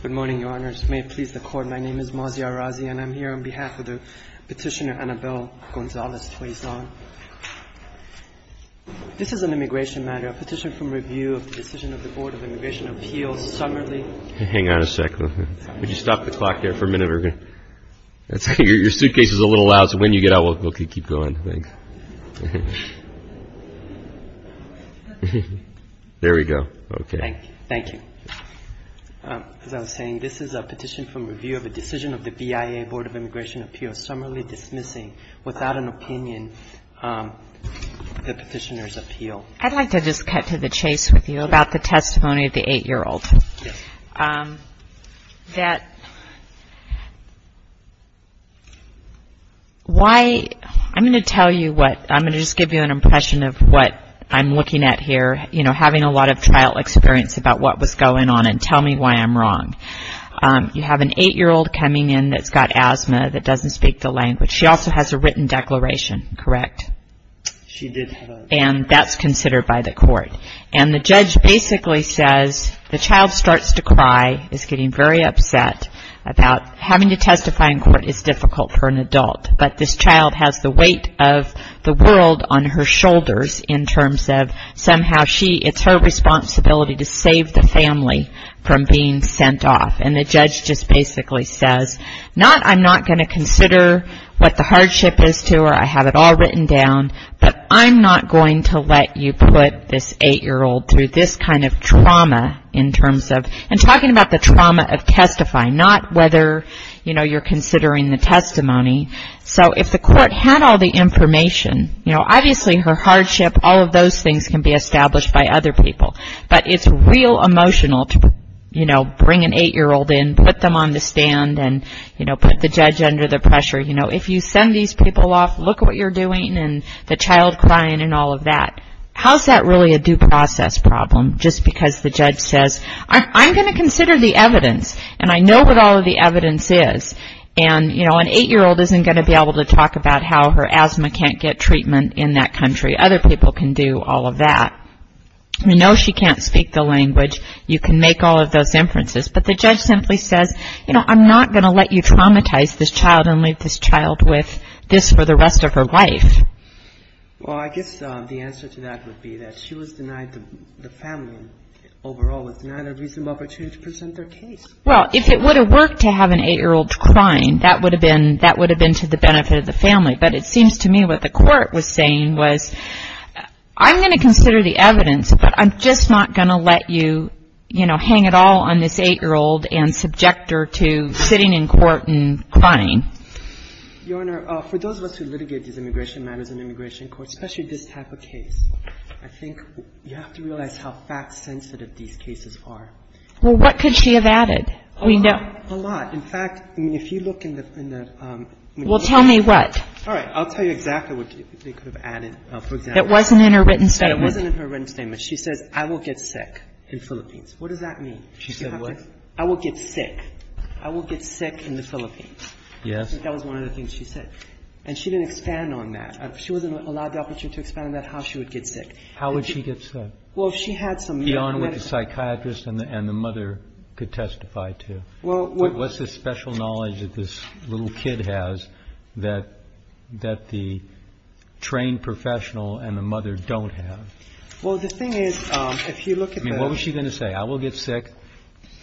Good morning, Your Honors. May it please the Court, my name is Maziar Razzi and I'm here on behalf of the petitioner Annabelle Gonzalez-Tuazon. This is an immigration matter, a petition from review of the decision of the Board of Immigration Appeals summarily. Hang on a second. Would your suitcase is a little loud so when you get out we'll keep going. There we go. Thank you. As I was saying, this is a petition from review of the decision of the BIA Board of Immigration Appeals summarily dismissing, without an opinion, the petitioner's appeal. I'd like to just cut to the chase with you about the testimony of the 8-year-old. I'm going to tell you what, I'm going to just give you an impression of what I'm looking at here, you know, having a lot of trial experience about what was going on and tell me why I'm wrong. You have an 8-year-old coming in that's got asthma that doesn't speak the language. She also has a written declaration, correct? And that's considered by the court. And the judge basically says the child starts to cry, is getting very upset about having to testify in court is difficult for an adult, but this child has the weight of the world on her shoulders in terms of somehow she, it's her responsibility to save the family from being sent off. And the judge just basically says, not I'm not going to get all written down, but I'm not going to let you put this 8-year-old through this kind of trauma in terms of, and talking about the trauma of testifying, not whether, you know, you're considering the testimony. So if the court had all the information, you know, obviously her hardship, all of those things can be established by other people. But it's real emotional to, you know, bring an 8-year-old in, put them on the stand and, you know, put the judge under the pressure. You know, if you send these people off, look at what you're doing, and the child crying and all of that. How's that really a due process problem? Just because the judge says, I'm going to consider the evidence, and I know what all of the evidence is. And, you know, an 8-year-old isn't going to be able to talk about how her asthma can't get treatment in that country. Other people can do all of that. You know she can't speak the language. You can make all of those inferences. But the judge simply says, you know, I'm not going to let you traumatize this child and leave this child with this for the rest of her life. Well, I guess the answer to that would be that she was denied the family, overall was denied a reasonable opportunity to present their case. Well, if it would have worked to have an 8-year-old crying, that would have been to the benefit of the family. But it seems to me what the court was saying was, I'm going to consider the evidence, but I'm just not going to let you, you know, hang it all on this 8-year-old and subject her to sitting in court and crying. Your Honor, for those of us who litigate these immigration matters in immigration courts, especially this type of case, I think you have to realize how fact-sensitive these cases are. Well, what could she have added? A lot. In fact, I mean, if you look in the — Well, tell me what. All right. I'll tell you exactly what they could have added. For example — It wasn't in her written statement. She says, I will get sick in the Philippines. What does that mean? She said what? I will get sick. I will get sick in the Philippines. Yes. I think that was one of the things she said. And she didn't expand on that. She wasn't allowed the opportunity to expand on how she would get sick. How would she get sick? Well, if she had some — Beyond what the psychiatrist and the mother could testify to. Well — What's this special knowledge that this little kid has that the trained professional and the mother don't have? Well, the thing is, if you look at the — I mean, what was she going to say? I will get sick,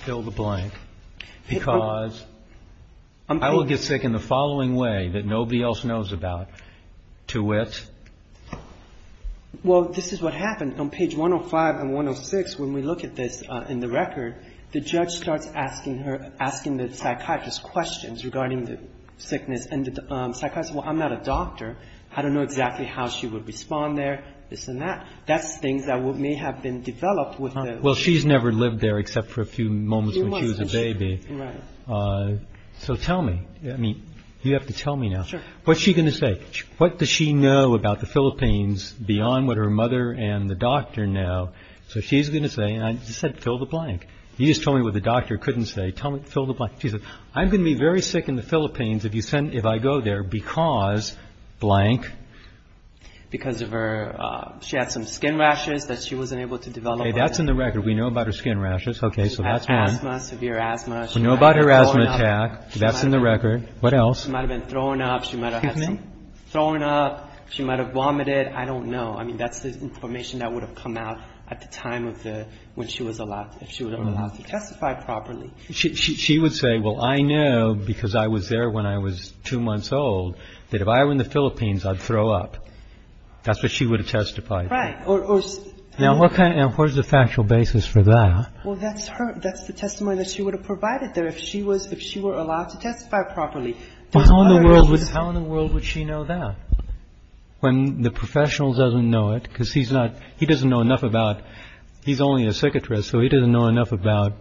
fill the blank, because — I'm — I will get sick in the following way that nobody else knows about, to which — Well, this is what happened. On page 105 and 106, when we look at this in the record, the judge starts asking the psychiatrist questions regarding the sickness. And the psychiatrist said, well, I'm not a doctor. I don't know exactly how she would respond there, this and that. That's things that may have been developed with the — Well, she's never lived there except for a few moments when she was a baby. Right. So tell me. I mean, you have to tell me now. Sure. What's she going to say? What does she know about the Philippines beyond what her mother and the doctor know? So she's going to say — and I just said fill the blank. You just told me what the doctor couldn't say. Tell me — fill the blank. She said, I'm going to be very sick in the Philippines if you send — if I go there because — blank. Because of her — she had some skin rashes that she wasn't able to develop. Okay, that's in the record. We know about her skin rashes. Okay, so that's one. She had asthma, severe asthma. We know about her asthma attack. That's in the record. What else? She might have been thrown up. She might have had some — Kidney? Thrown up. She might have vomited. I don't know. I mean, that's the information that would have come out at the time of the — when she was allowed — if she was allowed to testify properly. She would say, well, I know because I was there when I was two months old that if I were in the Philippines, I'd throw up. That's what she would have testified. Right. Or — Now, what kind of — what is the factual basis for that? Well, that's her — that's the testimony that she would have provided there if she was — if she were allowed to testify properly. How in the world would she know that? When the professional doesn't know it because he's not — he doesn't know enough about — he's only a psychiatrist, so he doesn't know enough about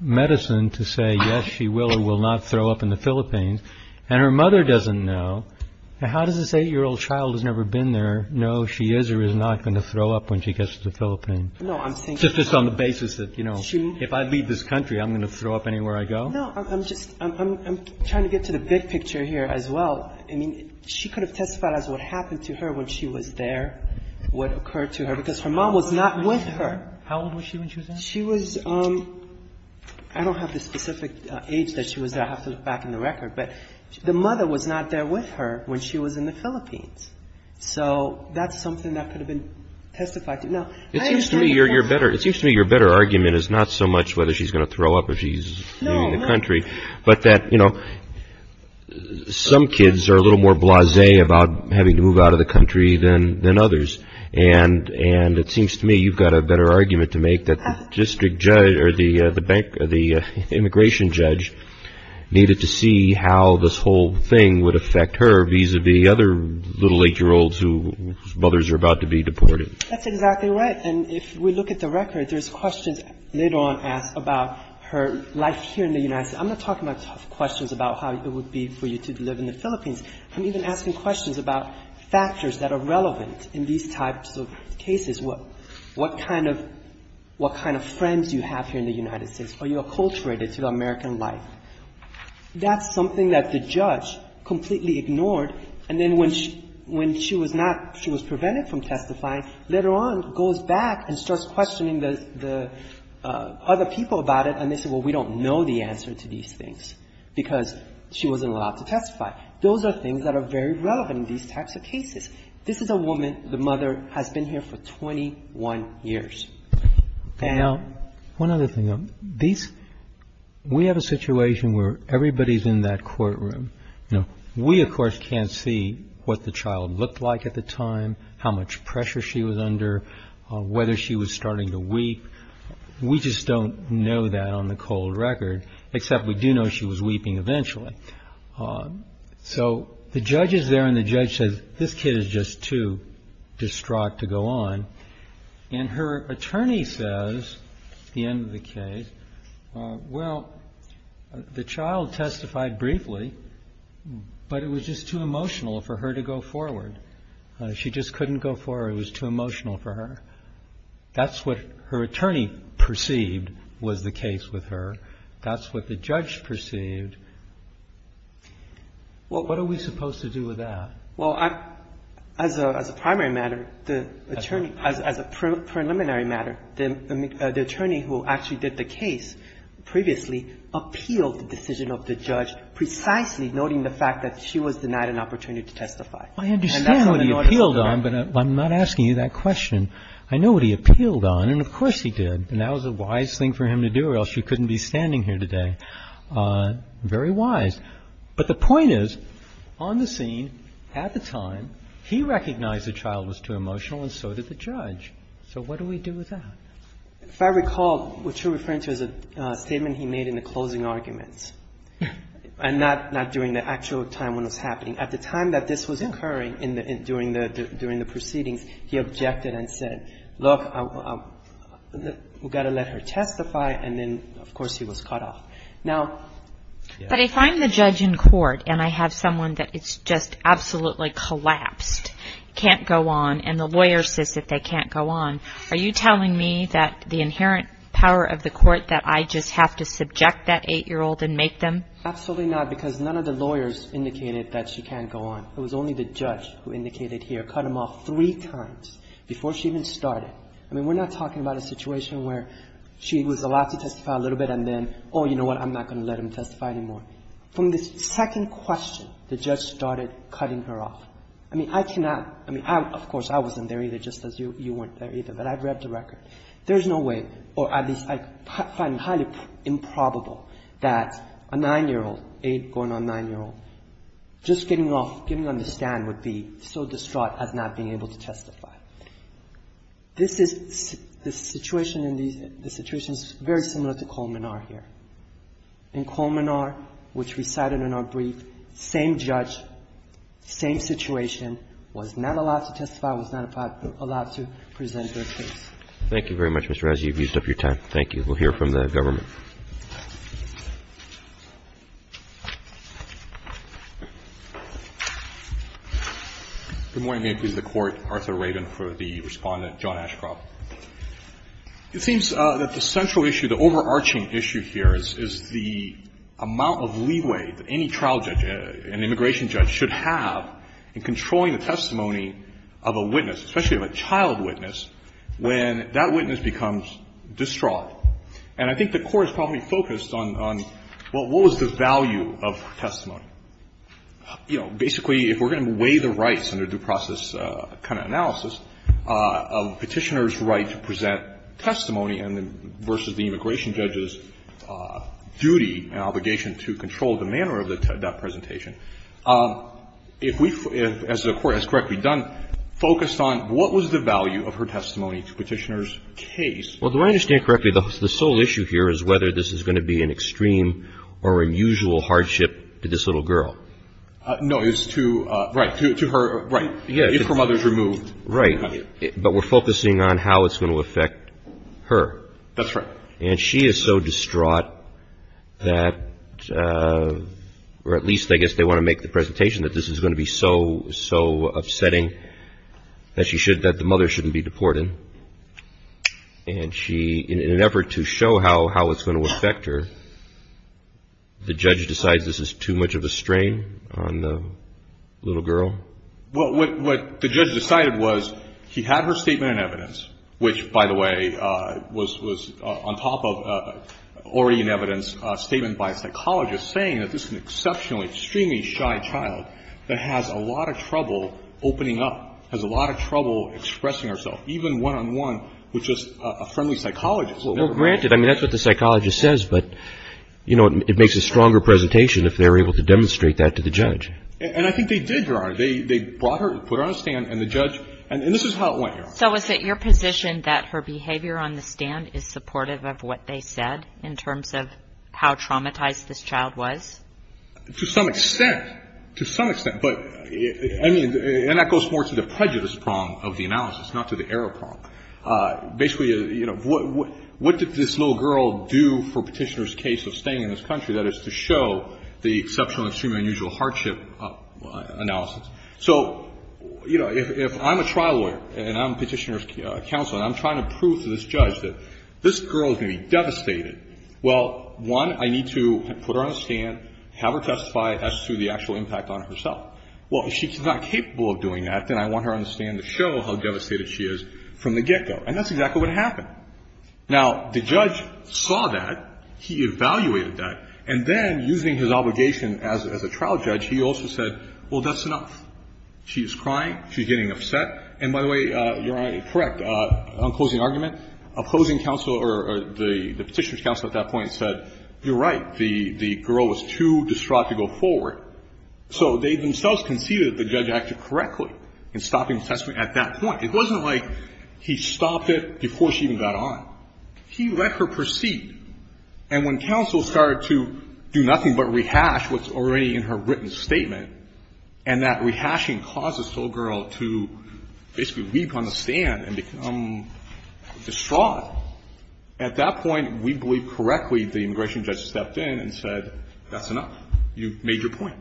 medicine to say, yes, she will or will not throw up in the Philippines. And her mother doesn't know. Now, how does this eight-year-old child who's never been there know she is or is not going to throw up when she gets to the Philippines? No, I'm saying — Just on the basis that, you know, if I leave this country, I'm going to throw up anywhere I go? No, I'm just — I'm trying to get to the big picture here as well. I mean, she could have testified as what happened to her when she was there, what occurred to her, because her mom was not with her. How old was she when she was there? She was — I don't have the specific age that she was there. I'll have to look back in the record. But the mother was not there with her when she was in the Philippines. So that's something that could have been testified to. Now, I understand — It seems to me you're better — it seems to me your better argument is not so much whether she's going to throw up if she's — No. But that, you know, some kids are a little more blasé about having to move out of the country than others. And it seems to me you've got a better argument to make that the district judge or the bank — the immigration judge needed to see how this whole thing would affect her vis-à-vis other little eight-year-olds whose mothers are about to be deported. That's exactly right. And if we look at the record, there's questions later on asked about her life here in the United States. I'm not talking about tough questions about how it would be for you to live in the Philippines. I'm even asking questions about factors that are relevant in these types of cases. What kind of friends do you have here in the United States? Are you acculturated to the American life? That's something that the judge completely ignored. And then when she was not — she was prevented from testifying, later on goes back and starts questioning the other people about it, and they say, well, we don't know the answer to these things because she wasn't allowed to testify. Those are things that are very relevant in these types of cases. This is a woman. The mother has been here for 21 years. Now, one other thing. We have a situation where everybody's in that courtroom. We, of course, can't see what the child looked like at the time, how much pressure she was under, whether she was starting to weep. We just don't know that on the cold record, except we do know she was weeping eventually. So the judge is there and the judge says, this kid is just too distraught to go on. And her attorney says at the end of the case, well, the child testified briefly, but it was just too emotional for her to go forward. She just couldn't go forward. It was too emotional for her. That's what her attorney perceived was the case with her. That's what the judge perceived. What are we supposed to do with that? Well, as a primary matter, the attorney, as a preliminary matter, the attorney who actually did the case previously appealed the decision of the judge precisely noting the fact that she was denied an opportunity to testify. I understand what he appealed on, but I'm not asking you that question. I know what he appealed on, and of course he did. And that was a wise thing for him to do or else she couldn't be standing here today. Very wise. But the point is, on the scene, at the time, he recognized the child was too emotional and so did the judge. So what do we do with that? If I recall, what you're referring to is a statement he made in the closing arguments and not during the actual time when it was happening. At the time that this was occurring during the proceedings, he objected and said, look, we've got to let her testify. And then, of course, he was cut off. But if I'm the judge in court and I have someone that is just absolutely collapsed, can't go on, and the lawyer says that they can't go on, are you telling me that the inherent power of the court that I just have to subject that 8-year-old and make them? Absolutely not, because none of the lawyers indicated that she can't go on. It was only the judge who indicated here, cut him off three times before she even started. I mean, we're not talking about a situation where she was allowed to testify a little bit and then, oh, you know what, I'm not going to let him testify anymore. From this second question, the judge started cutting her off. I mean, I cannot, I mean, of course, I wasn't there either, just as you weren't there either, but I've read the record. There's no way, or at least I find highly improbable, that a 9-year-old, 8 going on 9-year-old, just getting off, getting on the stand would be so distraught as not being able to testify. This is the situation, and the situation is very similar to Coleman R here. In Coleman R, which we cited in our brief, same judge, same situation, was not allowed to testify, was not allowed to present their case. Thank you very much, Mr. Razzi. You've used up your time. We'll hear from the government. Good morning. May it please the Court. Arthur Rabin for the Respondent, John Ashcroft. It seems that the central issue, the overarching issue here is the amount of leeway that any trial judge, an immigration judge, should have in controlling the testimony of a witness, especially of a child witness, when that witness becomes distraught. And I think the Court has probably focused on, well, what was the value of her testimony? You know, basically, if we're going to weigh the rights under due process kind of analysis of Petitioner's right to present testimony versus the immigration judge's duty and obligation to control the manner of that presentation, if we, as the Court has correctly done, focused on what was the value of her testimony to Petitioner's case? Well, do I understand correctly the sole issue here is whether this is going to be an extreme or unusual hardship to this little girl? No, it's to her right. If her mother is removed. Right. But we're focusing on how it's going to affect her. That's right. And she is so distraught that, or at least I guess they want to make the presentation that this is going to be so, so upsetting that she should, that the mother shouldn't be deported. And she, in an effort to show how it's going to affect her, the judge decides this is too much of a strain on the little girl? Well, what the judge decided was he had her statement in evidence, which, by the way, was on top of already in evidence statement by a psychologist saying that this is an exceptionally, extremely shy child that has a lot of trouble opening up, has a lot of trouble expressing herself, even one-on-one with just a friendly psychologist. Well, granted, I mean, that's what the psychologist says, but, you know, it makes a stronger presentation if they're able to demonstrate that to the judge. And I think they did, Your Honor. They brought her, put her on a stand, and the judge, and this is how it went, Your Honor. So is it your position that her behavior on the stand is supportive of what they said in terms of how traumatized this child was? To some extent. To some extent. But, I mean, and that goes more to the prejudice prong of the analysis, not to the error prong. Basically, you know, what did this little girl do for Petitioner's case of staying in this country, that is to show the exceptional, extremely unusual hardship analysis? So, you know, if I'm a trial lawyer and I'm Petitioner's counsel and I'm trying to prove to this judge that this girl is going to be devastated, well, one, I need to put her on a stand, have her testify as to the actual impact on herself. Well, if she's not capable of doing that, then I want her on the stand to show how devastated she is from the get-go. And that's exactly what happened. Now, the judge saw that. He evaluated that. And then, using his obligation as a trial judge, he also said, well, that's enough. She's crying. She's getting upset. And, by the way, Your Honor, correct, on closing argument, opposing counsel or the Petitioner's counsel at that point said, you're right, the girl was too distraught to go forward. So they themselves conceded that the judge acted correctly in stopping the testimony at that point. It wasn't like he stopped it before she even got on. He let her proceed. And when counsel started to do nothing but rehash what's already in her written statement, and that rehashing caused this little girl to basically weep on the stand and become distraught, at that point we believe correctly the immigration judge stepped in and said, that's enough. You've made your point.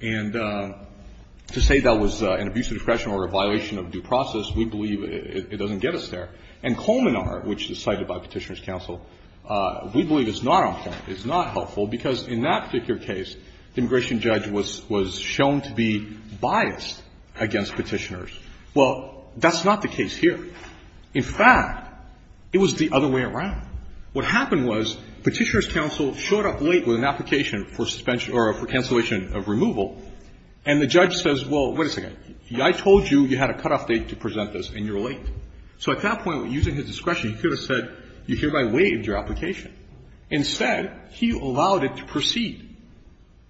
And to say that was an abuse of discretion or a violation of due process, we believe it doesn't get us there. And Coleman R., which is cited by Petitioner's counsel, we believe it's not on point, it's not helpful, because in that particular case, the immigration judge was shown to be biased against Petitioners. Well, that's not the case here. In fact, it was the other way around. What happened was Petitioner's counsel showed up late with an application for suspension or for cancellation of removal, and the judge says, well, wait a second, I told you you had a cutoff date to present this, and you're late. So at that point, using his discretion, he could have said, you hereby waived your application. Instead, he allowed it to proceed.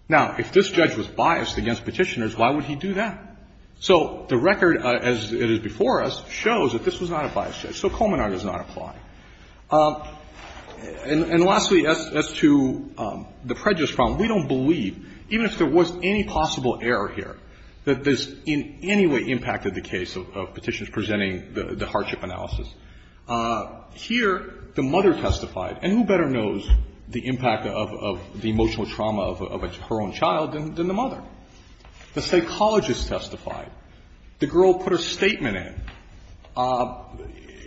Now, if this judge was biased against Petitioners, why would he do that? So the record, as it is before us, shows that this was not a biased judge. So Coleman R. does not apply. And lastly, as to the prejudice problem, we don't believe, even if there was any possible error here, that this in any way impacted the case of Petitioners presenting the hardship analysis. Here, the mother testified. And who better knows the impact of the emotional trauma of her own child than the mother? The psychologist testified. The girl put her statement in.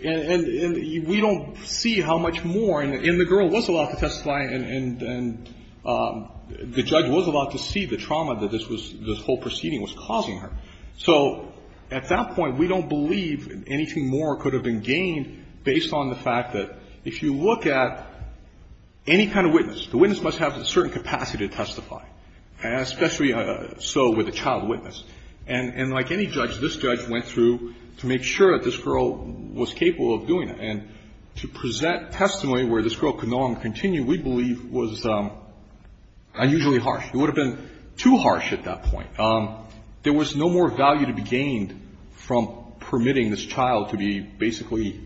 And we don't see how much more. And the girl was allowed to testify, and the judge was allowed to see the trauma that this was, this whole proceeding was causing her. So at that point, we don't believe anything more could have been gained based on the fact that if you look at any kind of witness, the witness must have a certain capacity to testify, especially so with a child witness. And like any judge, this judge went through to make sure that this girl was capable of doing it. And to present testimony where this girl could go on and continue, we believe, was unusually harsh. It would have been too harsh at that point. There was no more value to be gained from permitting this child to be basically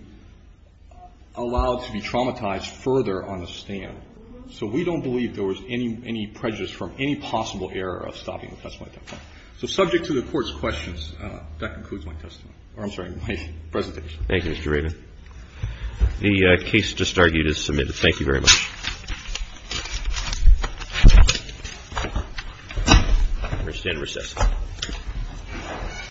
allowed to be traumatized further on the stand. So we don't believe there was any prejudice from any possible error of stopping the testimony at that point. So subject to the Court's questions, that concludes my testimony. Or I'm sorry, my presentation. Thank you, Mr. Rabin. The case just argued is submitted. Thank you very much. I understand recess.